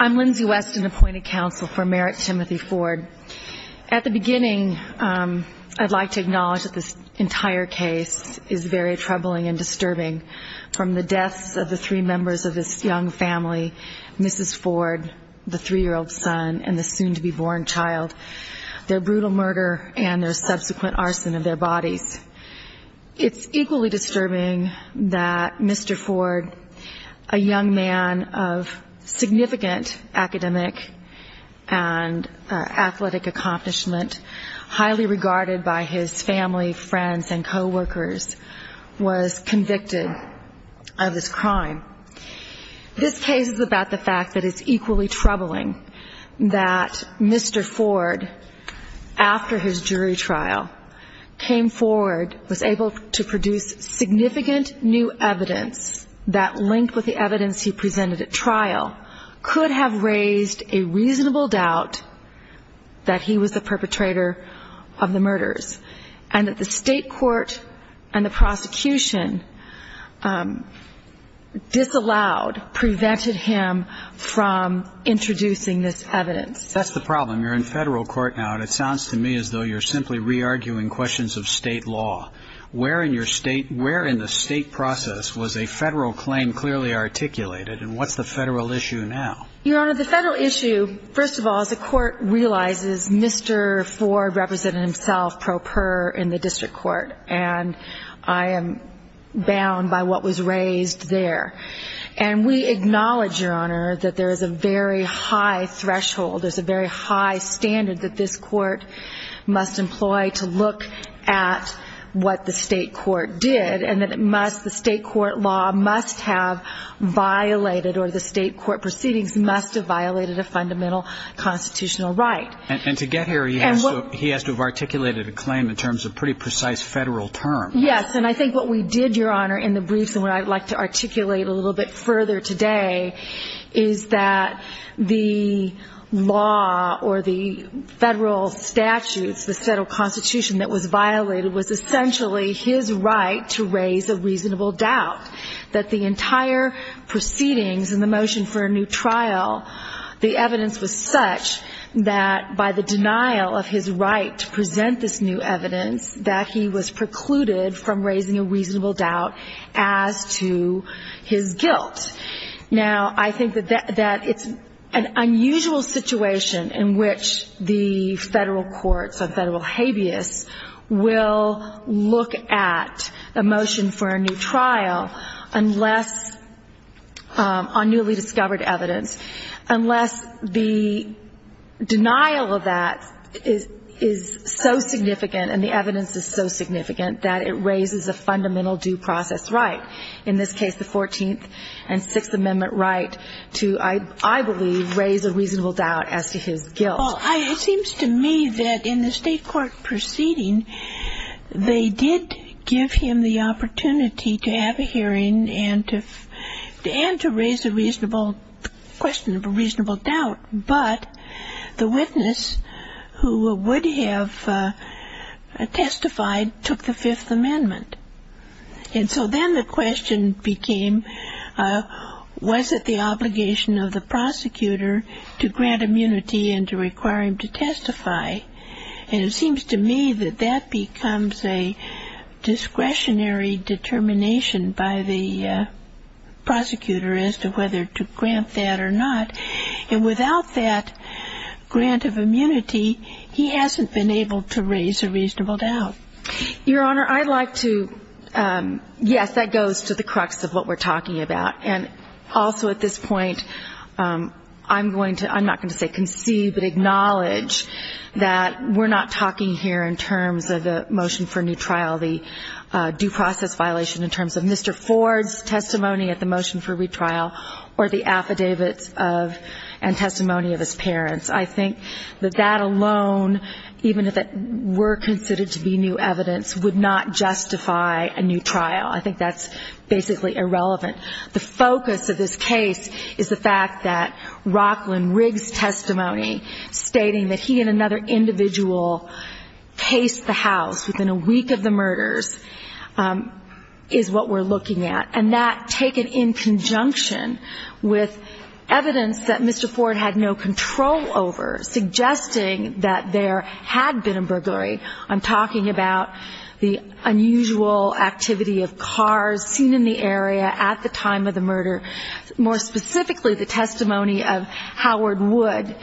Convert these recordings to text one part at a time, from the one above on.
I'm Lindsay Weston, appointed counsel for Merritt Timothy Ford. At the beginning, I'd like to acknowledge that this entire case is very troubling and disturbing from the deaths of the three members of this young family, Mrs. Ford, the three-year-old son, and the soon-to-be-born child, their brutal murder, and their subsequent arson of their bodies. It's equally disturbing that Mr. Ford, a young man of significant academic and athletic accomplishment, highly regarded by his family, friends, and co-workers, was convicted of this crime. This case is about the fact that it's equally troubling that Mr. Ford, after his jury trial, came forward, was able to produce significant new evidence that, linked with the evidence he presented at trial, could have raised a reasonable doubt that he was the perpetrator of the murders, and that the state court and the prosecution disallowed, prevented him from introducing this evidence. That's the problem. You're in federal court now, and it sounds to me as though you're simply re-arguing questions of state law. Where in the state process was a federal claim clearly articulated, and what's the federal issue now? Your Honor, the federal issue, first of all, is the court realizes Mr. Ford represented himself pro per in the district court, and I am bound by what was raised there. We acknowledge, Your Honor, that there is a very high threshold, there's a very high standard, that this court must employ to look at what the state court did, and that it must, the state court law must have violated, or the state court proceedings must have violated a fundamental constitutional right. To get here, he has to have articulated a claim in terms of a pretty precise federal term. Yes. And I think what we did, Your Honor, in the briefs, and what I'd like to articulate a little bit further today, is that the law or the federal statutes, the federal constitution that was violated, was essentially his right to raise a reasonable doubt. That the entire proceedings and the motion for a new trial, the evidence was such that by the denial of his right to present this new evidence, that he was precluded from raising a reasonable doubt as to his guilt. Now I think that it's an unusual situation in which the federal courts or federal habeas will look at a motion for a new trial unless, on newly discovered evidence, unless the denial of that is so significant, and the evidence is so significant, that it raises a fundamental due process right. In this case, the 14th and 6th Amendment right to, I believe, raise a reasonable doubt as to his guilt. Well, it seems to me that in the state court proceeding, they did give him the opportunity to have a hearing and to raise a reasonable question, a reasonable doubt, but the witness who would have testified took the 5th Amendment. And so then the question became, was it the obligation of the prosecutor to grant immunity and to require him to testify? And it seems to me that that becomes a discretionary determination by the prosecutor as to whether to grant that or not. And without that grant of immunity, he hasn't been able to raise a reasonable doubt. Your Honor, I'd like to, yes, that goes to the crux of what we're talking about. And also at this point, I'm going to, I'm not going to say concede, but acknowledge that we're not talking here in terms of the motion for new trial, the due process violation in terms of Mr. Ford's testimony at the motion for retrial or the affidavits of and testimony of his parents. I think that that alone, even if it were considered to be new evidence, would not justify a new trial. I think that's basically irrelevant. The focus of this case is the fact that Rockland Riggs' testimony stating that he and another individual cased the house within a week of the murders is what we're looking at. And that, taken in conjunction with evidence that Mr. Ford had no control over, suggesting that there had been a burglary, I'm talking about the unusual activity of cars seen in the area at the time of the murder, more specifically the testimony of Howard Wood,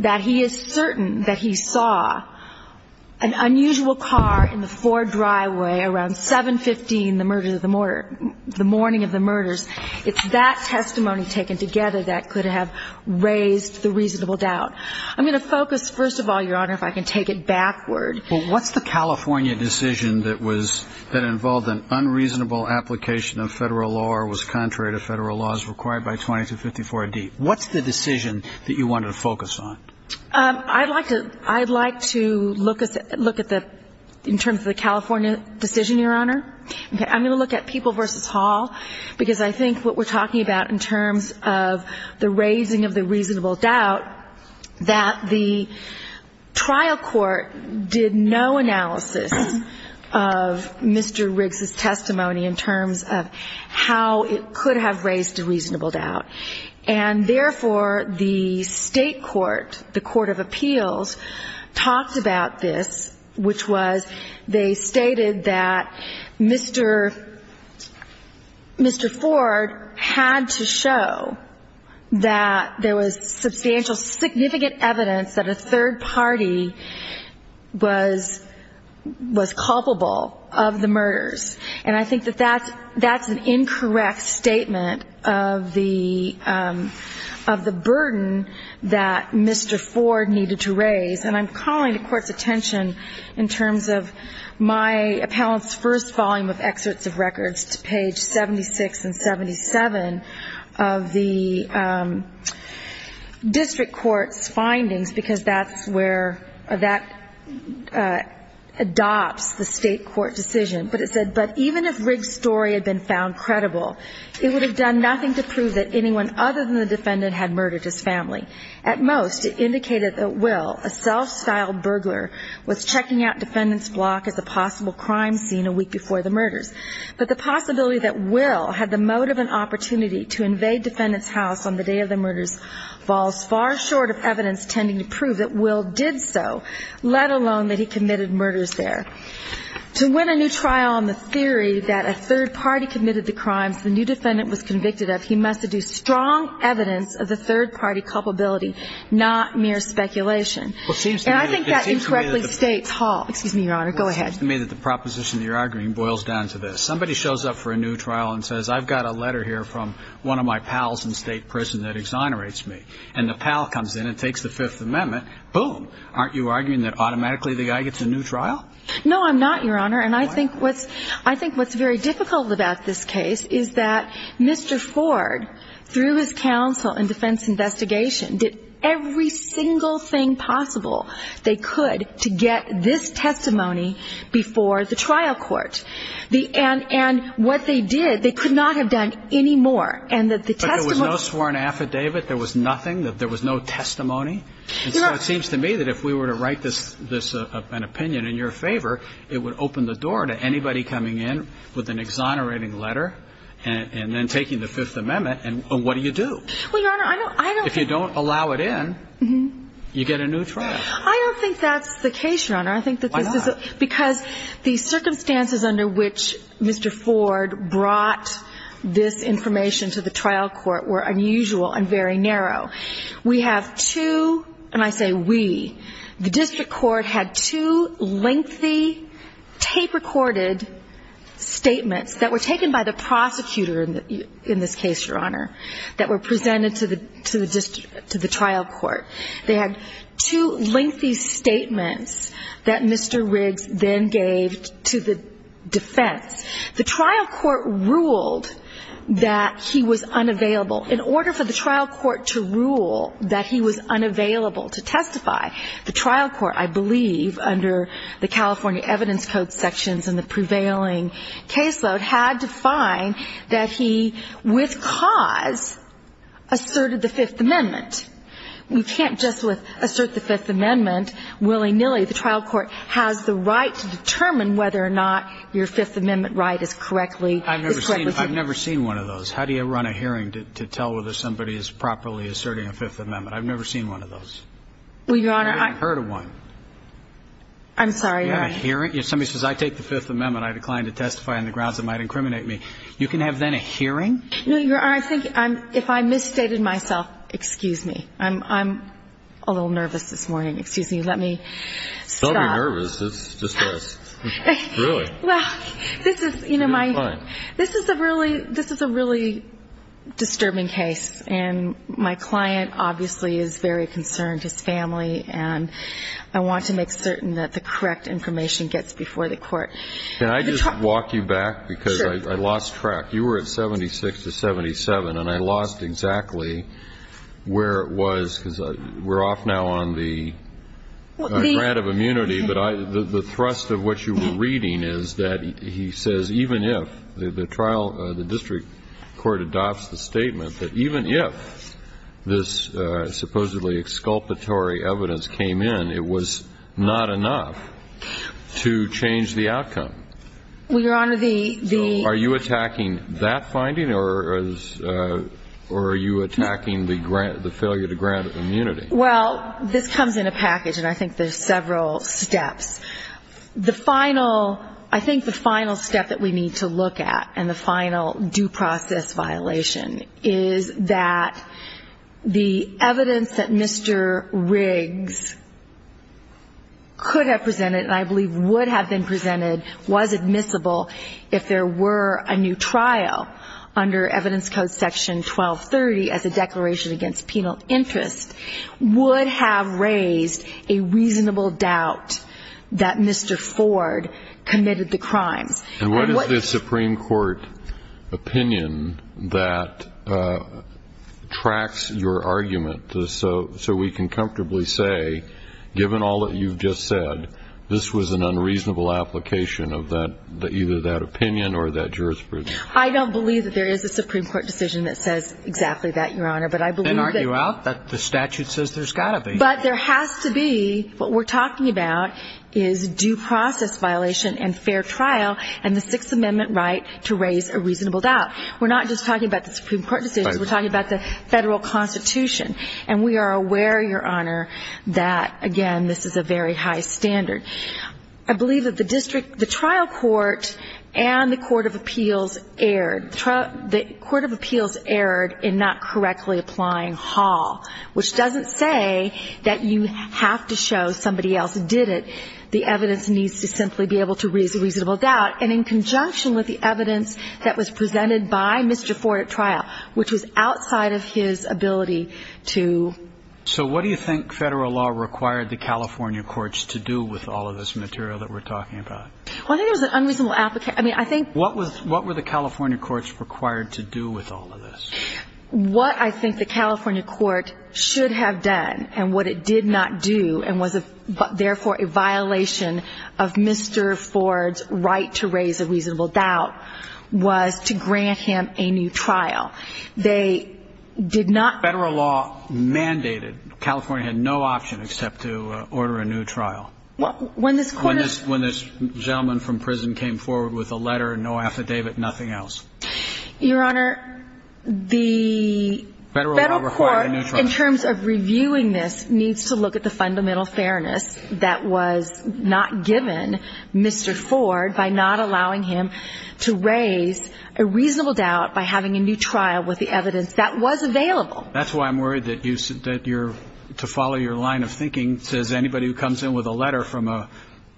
that he is certain that he saw an unusual car in the Ford driveway around 7.15 the morning of the murders. It's that testimony taken together that could have raised the reasonable doubt. I'm going to focus, first of all, Your Honor, if I can take it backward. Well, what's the California decision that involved an unreasonable application of federal law or was contrary to federal laws required by 2254D? What's the decision that you wanted to focus on? I'd like to look at the, in terms of the California decision, Your Honor. I'm going to look at People v. Hall, because I think what we're talking about in terms of the raising of the reasonable doubt, that the trial court did no analysis of Mr. Riggs's testimony in terms of how it could have raised a reasonable doubt. And therefore, the state court, the Court of Appeals, talked about this, which was they stated that Mr. Ford had to show that there was substantial, significant evidence that a third party was culpable of the murders. And I think that that's an incorrect statement of the burden that Mr. Ford needed to raise. And I'm calling the Court's attention in terms of my appellant's first volume of excerpts of records to page 76 and 77 of the district court's findings, because that's where, that adopts the state court decision. But it said, but even if Riggs's story had been found credible, it would have done nothing to prove that anyone other than the defendant had murdered his family. At most, it indicated that Will, a self-styled burglar, was checking out defendant's block as a possible crime scene a week before the murders. But the possibility that Will had the motive and opportunity to invade defendant's house on the day of the murders falls far short of evidence tending to prove that Will did so, let alone that he committed murders there. To win a new trial on the theory that a third party committed the crimes the new defendant was not mere speculation. And I think that incorrectly states Hall. Excuse me, Your Honor. Go ahead. It seems to me that the proposition you're arguing boils down to this. Somebody shows up for a new trial and says, I've got a letter here from one of my pals in state prison that exonerates me. And the pal comes in and takes the Fifth Amendment. Boom. Aren't you arguing that automatically the guy gets a new trial? No, I'm not, Your Honor. And I think what's very difficult about this case is that Mr. Ford, through his counsel and defense investigation, did every single thing possible they could to get this testimony before the trial court. And what they did, they could not have done any more. And that the testimony- But there was no sworn affidavit. There was nothing. There was no testimony. And so it seems to me that if we were to write an opinion in your favor, it would open the door to anybody coming in with an exonerating letter and then taking the Fifth Amendment. And what do you do? Well, Your Honor, I don't- If you don't allow it in, you get a new trial. I don't think that's the case, Your Honor. I think that this is- Why not? Because the circumstances under which Mr. Ford brought this information to the trial court were unusual and very narrow. We have two, and I say we, the district court had two lengthy, tape-recorded statements that were taken by the district court and presented to the trial court. They had two lengthy statements that Mr. Riggs then gave to the defense. The trial court ruled that he was unavailable. In order for the trial court to rule that he was unavailable to testify, the trial court, I believe, under the California Evidence Code sections and the prevailing caseload, had to find that he, with cause, asserted the Fifth Amendment. We can't just assert the Fifth Amendment willy-nilly. The trial court has the right to determine whether or not your Fifth Amendment right is correctly- I've never seen one of those. How do you run a hearing to tell whether somebody is properly asserting a Fifth Amendment? I've never seen one of those. Well, Your Honor, I- I've never even heard of one. I'm sorry, Your Honor. You have a hearing? If somebody says, I take the Fifth Amendment, I decline to testify on the grounds it might incriminate me, you can have, then, a hearing? No, Your Honor, I think if I misstated myself, excuse me, I'm a little nervous this morning. Excuse me, let me stop. Don't be nervous. It's just us. Well, this is, you know, my- It's fine. This is a really disturbing case, and my client, obviously, is very concerned. His family, and I want to make certain that the correct information gets before the court. Can I just walk you back? Because I lost track. You were at 76 to 77, and I lost exactly where it was, because we're off now on the grant of immunity. But the thrust of what you were reading is that he says even if the trial, the district court adopts the statement that even if this supposedly exculpatory evidence came in, it was not enough to change the outcome. Well, Your Honor, the- So are you attacking that finding, or are you attacking the failure to grant immunity? Well, this comes in a package, and I think there's several steps. The final, I think the final step that we need to look at, and the final due process violation, is that the evidence that Mr. Riggs could have presented, and I believe would have been presented, was admissible if there were a new trial under Evidence Code Section 1230 as a declaration against that Mr. Ford committed the crimes. And what is the Supreme Court opinion that tracks your argument so we can comfortably say, given all that you've just said, this was an unreasonable application of either that opinion or that jurisprudence? I don't believe that there is a Supreme Court decision that says exactly that, Your Honor, but I believe that- And argue out that the statute says there's got to be. But there has to be, what we're talking about, is due process violation and fair trial, and the Sixth Amendment right to raise a reasonable doubt. We're not just talking about the Supreme Court decision, we're talking about the federal constitution. And we are aware, Your Honor, that, again, this is a very high standard. I believe that the district, the trial court, and the Court of Appeals erred. The Court of Appeals erred in not correctly applying Hall, which doesn't say that you have to show somebody else did it. The evidence needs to simply be able to raise a reasonable doubt, and in conjunction with the evidence that was presented by Mr. Ford at trial, which was outside of his ability to- So what do you think federal law required the California courts to do with all of this material that we're talking about? Well, I think it was an unreasonable application- I mean, I think- What were the California courts required to do with all of this? What I think the California court should have done, and what it did not do, and was therefore a violation of Mr. Ford's right to raise a reasonable doubt, was to grant him a new trial. They did not- Federal law mandated California had no option except to order a new trial. When this gentleman from prison came forward with a letter, no affidavit, nothing else. Your Honor, the federal court, in terms of reviewing this, needs to look at the fundamental fairness that was not given Mr. Ford by not allowing him to raise a reasonable doubt by having a new trial with the evidence that was available. That's why I'm worried that you're- to follow your line of thinking, says anybody who comes in with a letter from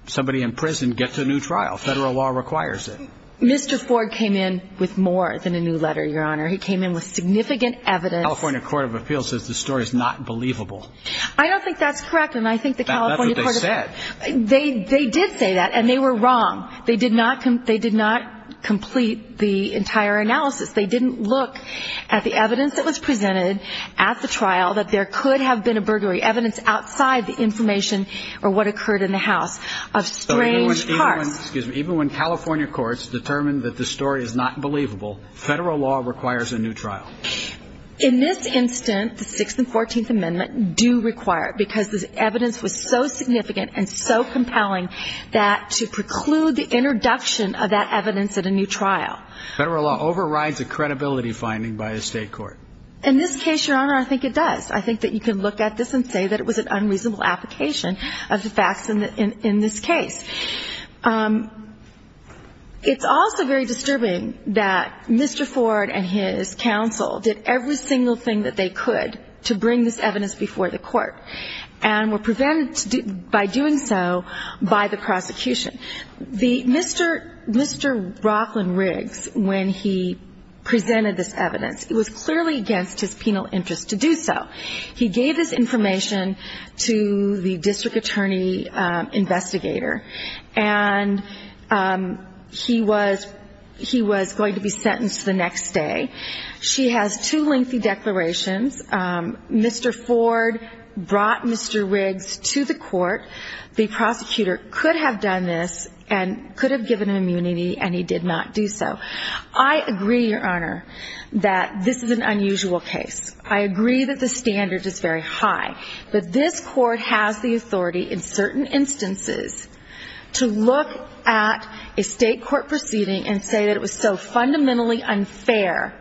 somebody in prison, get to a new trial. Federal law requires it. Mr. Ford came in with more than a new letter, Your Honor. He came in with significant evidence- California Court of Appeals says the story's not believable. I don't think that's correct, and I think the California court- That's what they said. They did say that, and they were wrong. They did not complete the entire analysis. They didn't look at the evidence that was presented at the trial, that there could have been a burglary, evidence outside the information or what occurred in the house, of strange parts. Even when California courts determined that the story is not believable, federal law requires a new trial. In this instance, the 6th and 14th Amendment do require it because this evidence was so significant and so compelling that to preclude the introduction of that evidence at a new trial- Federal law overrides a credibility finding by a state court. In this case, Your Honor, I think it does. I think that you can look at this and say that it was an unreasonable application of the facts in this case. It's also very disturbing that Mr. Ford and his counsel did every single thing that they could to bring this evidence before the court and were prevented by doing so by the prosecution. Mr. Rockland Riggs, when he presented this evidence, it was clearly against his penal interest to do so. He gave this information to the district attorney investigator and he was going to be sentenced the next day. She has two lengthy declarations. Mr. Ford brought Mr. Riggs to the court. The prosecutor could have done this and could have given him immunity and he did not do so. I agree, Your Honor, that this is an unusual case. I agree that the standard is very high, but this court has the authority in certain instances to look at a state court proceeding and say that it was so fundamentally unfair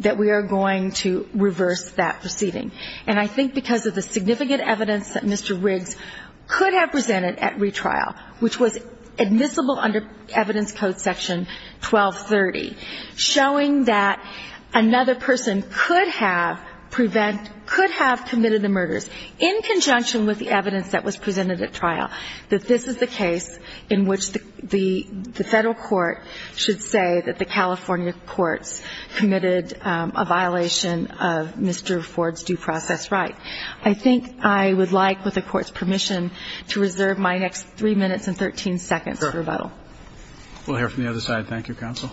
that we are going to reverse that proceeding. And I think because of the significant evidence that Mr. Riggs could have presented at retrial, which was admissible under evidence code section 1230, showing that another person could have prevented – could have committed the murders in conjunction with the evidence that was presented at trial, that this is the case in which the Federal court should say that the California courts committed a violation of Mr. Ford's due process right. I think I would like, with the court's permission, to reserve my next 3 minutes and 13 seconds for rebuttal. We'll hear from the other side. Thank you, counsel.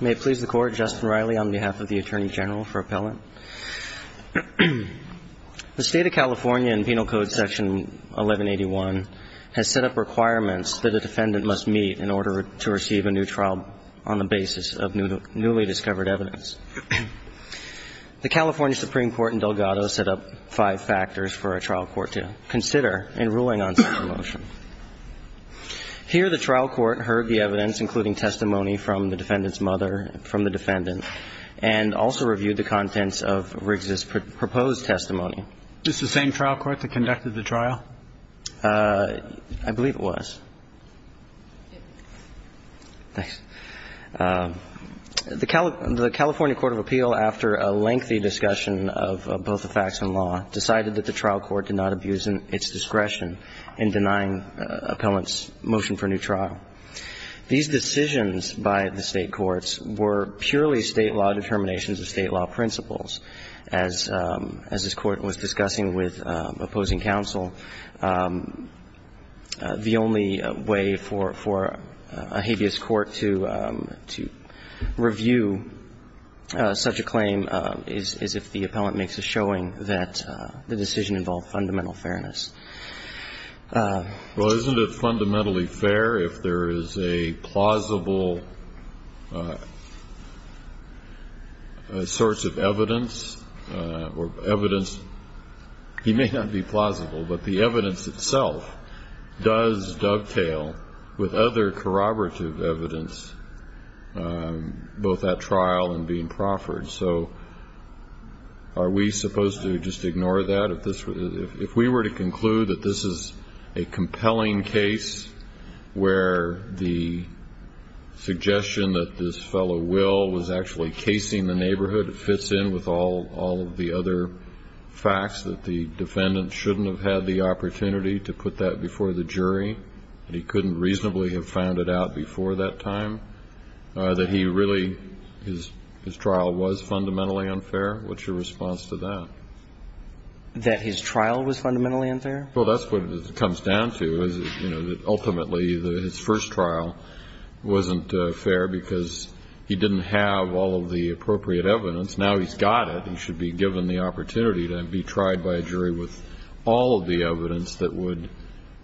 May it please the Court, Justin Riley on behalf of the Attorney General for Appellant. The State of California in Penal Code section 1181 has set up requirements that a defendant must meet in order to receive a new trial on the basis of newly discovered evidence. The California Supreme Court in Delgado set up five factors for a trial court to consider in ruling on such a motion. Here, the trial court heard the evidence, including testimony from the defendant's mother, from the defendant, and also reviewed the contents of Riggs' proposed testimony. Is this the same trial court that conducted the trial? I believe it was. The California court of appeal, after a lengthy discussion of both the facts and law, decided that the trial court did not abuse its discretion in denying the appellant's motion for new trial. These decisions by the State courts were purely State law determinations of State law principles. As this Court was discussing with opposing counsel, the only way for a habeas court to review such a claim is if the appellant makes a showing that the decision involved If we were to conclude that this is a compelling case where the suggestion that this fellow Will was actually casing the neighborhood, it fits in with all of the other facts, that the defendant shouldn't have had the opportunity to put that before the jury, that he couldn't reasonably have found it out before that time, that he really, his trial was fundamentally unfair, what's your response to that? That his trial was fundamentally unfair? Well, that's what it comes down to, is, you know, that ultimately his first trial wasn't fair because he didn't have all of the appropriate evidence. Now he's got it. He should be given the opportunity to be tried by a jury with all of the evidence that would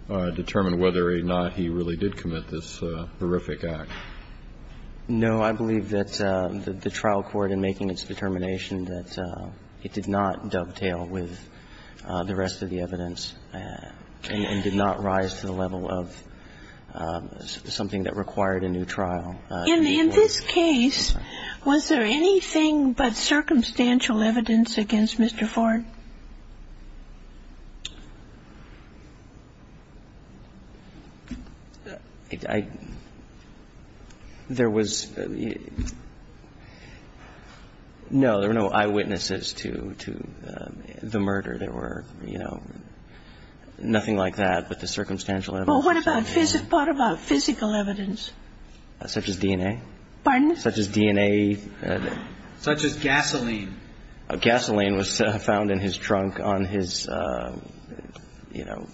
determine whether or not he really did commit this horrific act. No, I believe that the trial court in making its determination that it did not dovetail with the rest of the evidence and did not rise to the level of something that required a new trial. In this case, was there anything but circumstantial evidence against Mr. Ford? There was, no, there were no eyewitnesses to the murder. There were, you know, nothing like that, but the circumstantial evidence. Well, what about physical evidence? Such as DNA? Such as DNA. Such as gasoline. Gasoline was found in his trunk on his, you know,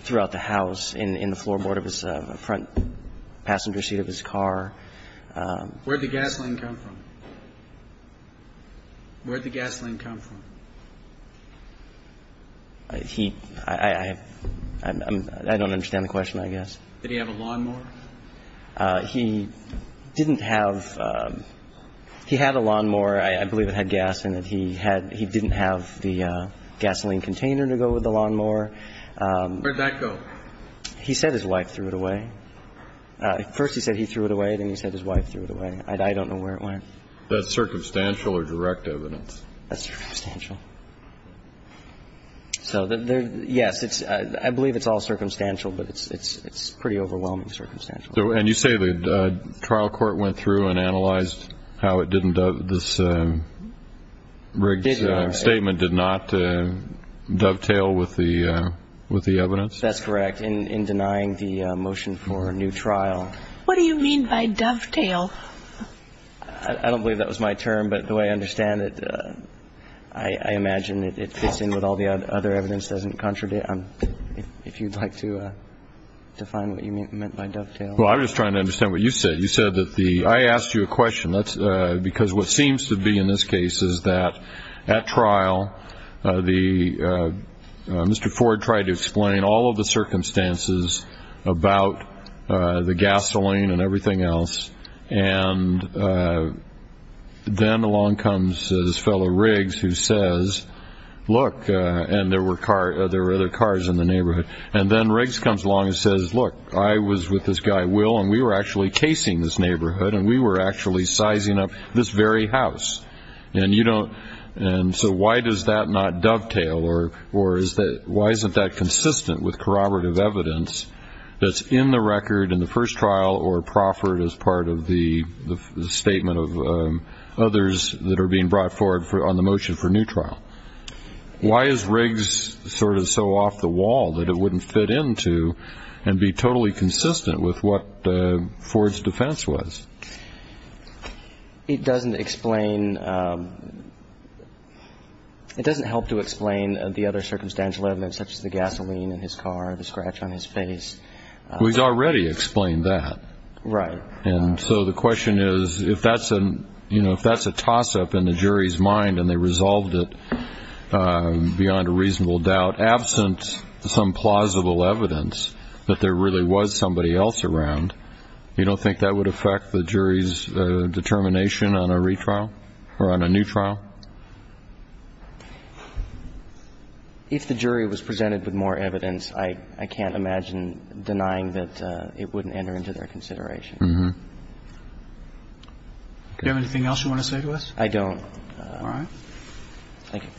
throughout the house in the floorboard of his front passenger seat of his car. Where did the gasoline come from? Where did the gasoline come from? He – I don't understand the question, I guess. Did he have a lawnmower? He didn't have – he had a lawnmower. I believe it had gas in it. He had – he didn't have the gasoline container to go with the lawnmower. Where'd that go? He said his wife threw it away. First he said he threw it away, then he said his wife threw it away. I don't know where it went. Is that circumstantial or direct evidence? That's circumstantial. So, yes, it's – I believe it's all circumstantial, but it's pretty overwhelming circumstantial. And you say the trial court went through and analyzed how it didn't – this Riggs statement did not dovetail with the – with the evidence? That's correct. In denying the motion for a new trial. What do you mean by dovetail? I don't believe that was my term, but the way I understand it, I imagine it fits in with all the other evidence, doesn't contradict – if you'd like to define what you meant by dovetail. Well, I'm just trying to understand what you said. You said that the – I asked you a question, that's – because what seems to be in this case is that at trial, the – Mr. Ford tried to explain all of the circumstances about the gasoline and everything else, and then along comes this fellow Riggs who says, look – and there were cars – there were other cars in the neighborhood – and then Riggs comes along and says, look, I was with this guy Will and we were actually casing this neighborhood and we were actually sizing up this very house, and you don't – and so why does that not dovetail or is that – why isn't that consistent with corroborative evidence that's in the record in the first trial or proffered as part of the statement of others that are being brought forward on the motion for a new trial? Why is Riggs sort of so off the wall that it wouldn't fit into and be totally consistent with what Ford's defense was? It doesn't explain – it doesn't help to explain the other circumstantial evidence such as the gasoline in his car, the scratch on his face. Well, he's already explained that. Right. And so the question is, if that's a – you know, if that's a toss-up in the jury's mind and they resolved it beyond a reasonable doubt, absent some plausible evidence that there really was somebody else around, you don't think that would affect the jury's determination on a retrial or on a new trial? If the jury was presented with more evidence, I can't imagine denying that it wouldn't enter into their consideration. Do you have anything else you want to say to us? I don't. All right. Thank you.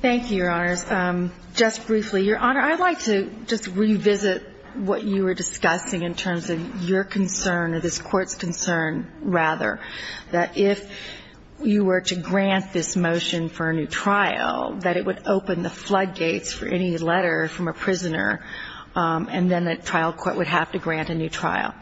Thank you, Your Honors. Just briefly, Your Honor, I'd like to just revisit what you were discussing in terms of your concern or this Court's concern, rather, that if you were to grant this motion for a new trial, that it would open the floodgates for any letter from a prisoner, and then the trial court would have to grant a new trial.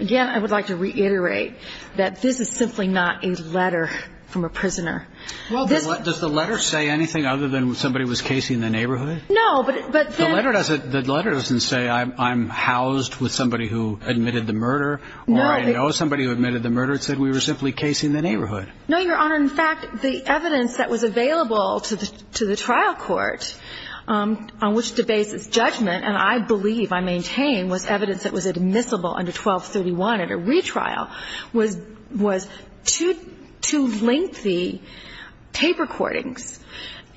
Again, I would like to reiterate that this is simply not a letter from a prisoner. Well, does the letter say anything other than somebody was casing the neighborhood? No, but then – The letter doesn't say, I'm housed with somebody who admitted the murder, or I know somebody who admitted the murder, it said we were simply casing the neighborhood. No, Your Honor. In fact, the evidence that was available to the trial court on which to base its judgment, and I believe, I maintain, was evidence that was admissible under 1231 at a retrial, was two lengthy tape recordings,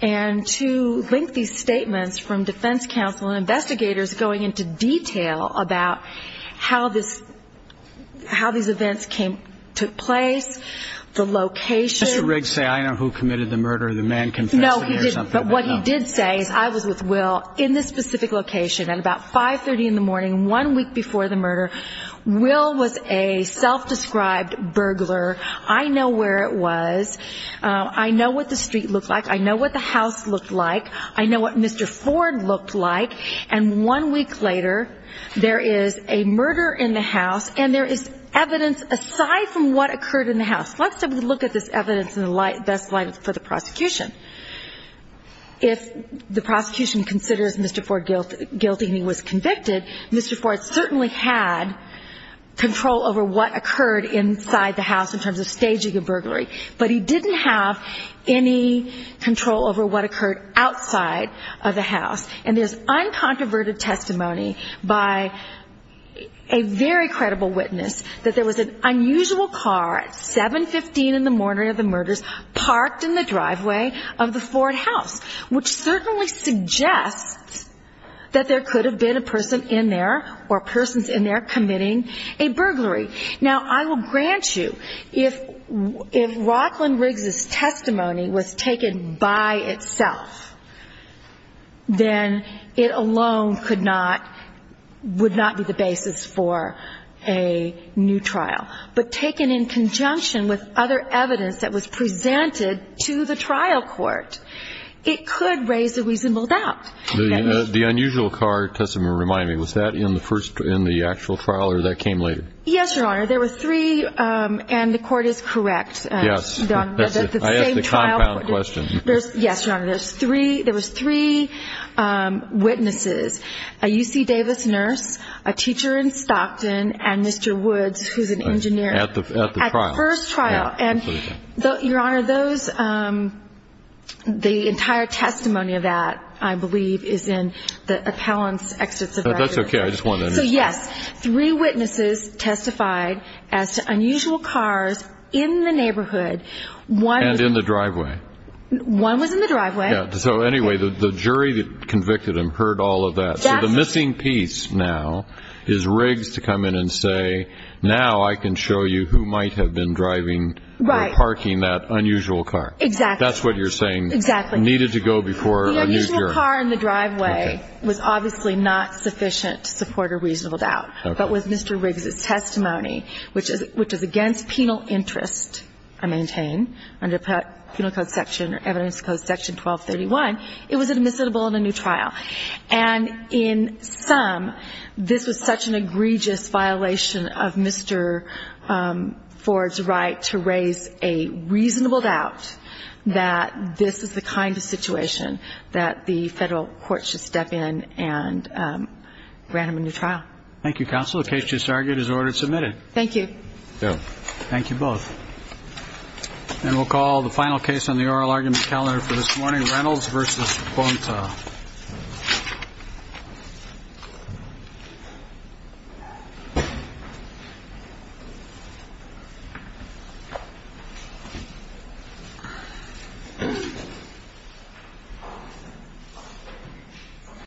and two lengthy statements from defense counsel and investigators going into detail about how this – how these events came – took place, the location. Did Mr. Riggs say, I know who committed the murder, the man confessed to me or something? No, he didn't. What he did say is I was with Will in this specific location at about 530 in the morning one week before the murder. Will was a self-described burglar. I know where it was. I know what the street looked like. I know what the house looked like. I know what Mr. Ford looked like. And one week later, there is a murder in the house, and there is evidence – aside from what occurred in the house – let's have a look at this evidence in the best light for the prosecution. If the prosecution considers Mr. Ford guilty and he was convicted, Mr. Ford certainly had control over what occurred inside the house in terms of staging a burglary, but he didn't have any control over what occurred outside of the house. And there is uncontroverted testimony by a very credible witness that there was an unusual car at 715 in the morning of the murders parked in the driveway of the Ford house, which certainly suggests that there could have been a person in there or persons in there committing a burglary. Now, I will grant you, if Rocklin Riggs' testimony was taken by itself, then it alone would not be the basis for a new trial. But taken in conjunction with other evidence that was presented to the trial court, it could raise a reasonable doubt. The unusual car testimony, remind me, was that in the first – in the actual trial or that came later? Yes, Your Honor. There were three – and the court is correct. Yes. I asked the compound question. Yes, Your Honor. There was three witnesses, a UC Davis nurse, a teacher in Stockton, and Mr. Woods, who is an engineer. At the trial. At the first trial. And, Your Honor, those – the entire testimony of that, I believe, is in the appellant's extents of records. That's okay. I just wanted to – So, yes, three witnesses testified as to unusual cars in the neighborhood. One – And in the driveway. One was in the driveway. Yes. So, anyway, the jury that convicted him heard all of that. Yes. So the missing piece now is Riggs to come in and say, now I can show you who might have been driving – Right. Or parking that unusual car. Exactly. That's what you're saying. Exactly. It needed to go before a new jury. The unusual car in the driveway was obviously not sufficient to support a reasonable doubt. Okay. But with Mr. Riggs' testimony, which is against penal interest, I maintain, under penal cause section – or evidence clause section 1231, it was admissible in a new trial. And in sum, this was such an egregious violation of Mr. Ford's right to raise a reasonable doubt that this is the kind of situation that the Federal court should step in and grant him a new trial. Thank you, Counsel. The case just argued is ordered submitted. Thank you. Thank you both. And we'll call the final case on the oral argument calendar for this morning, Reynolds v. Bonta.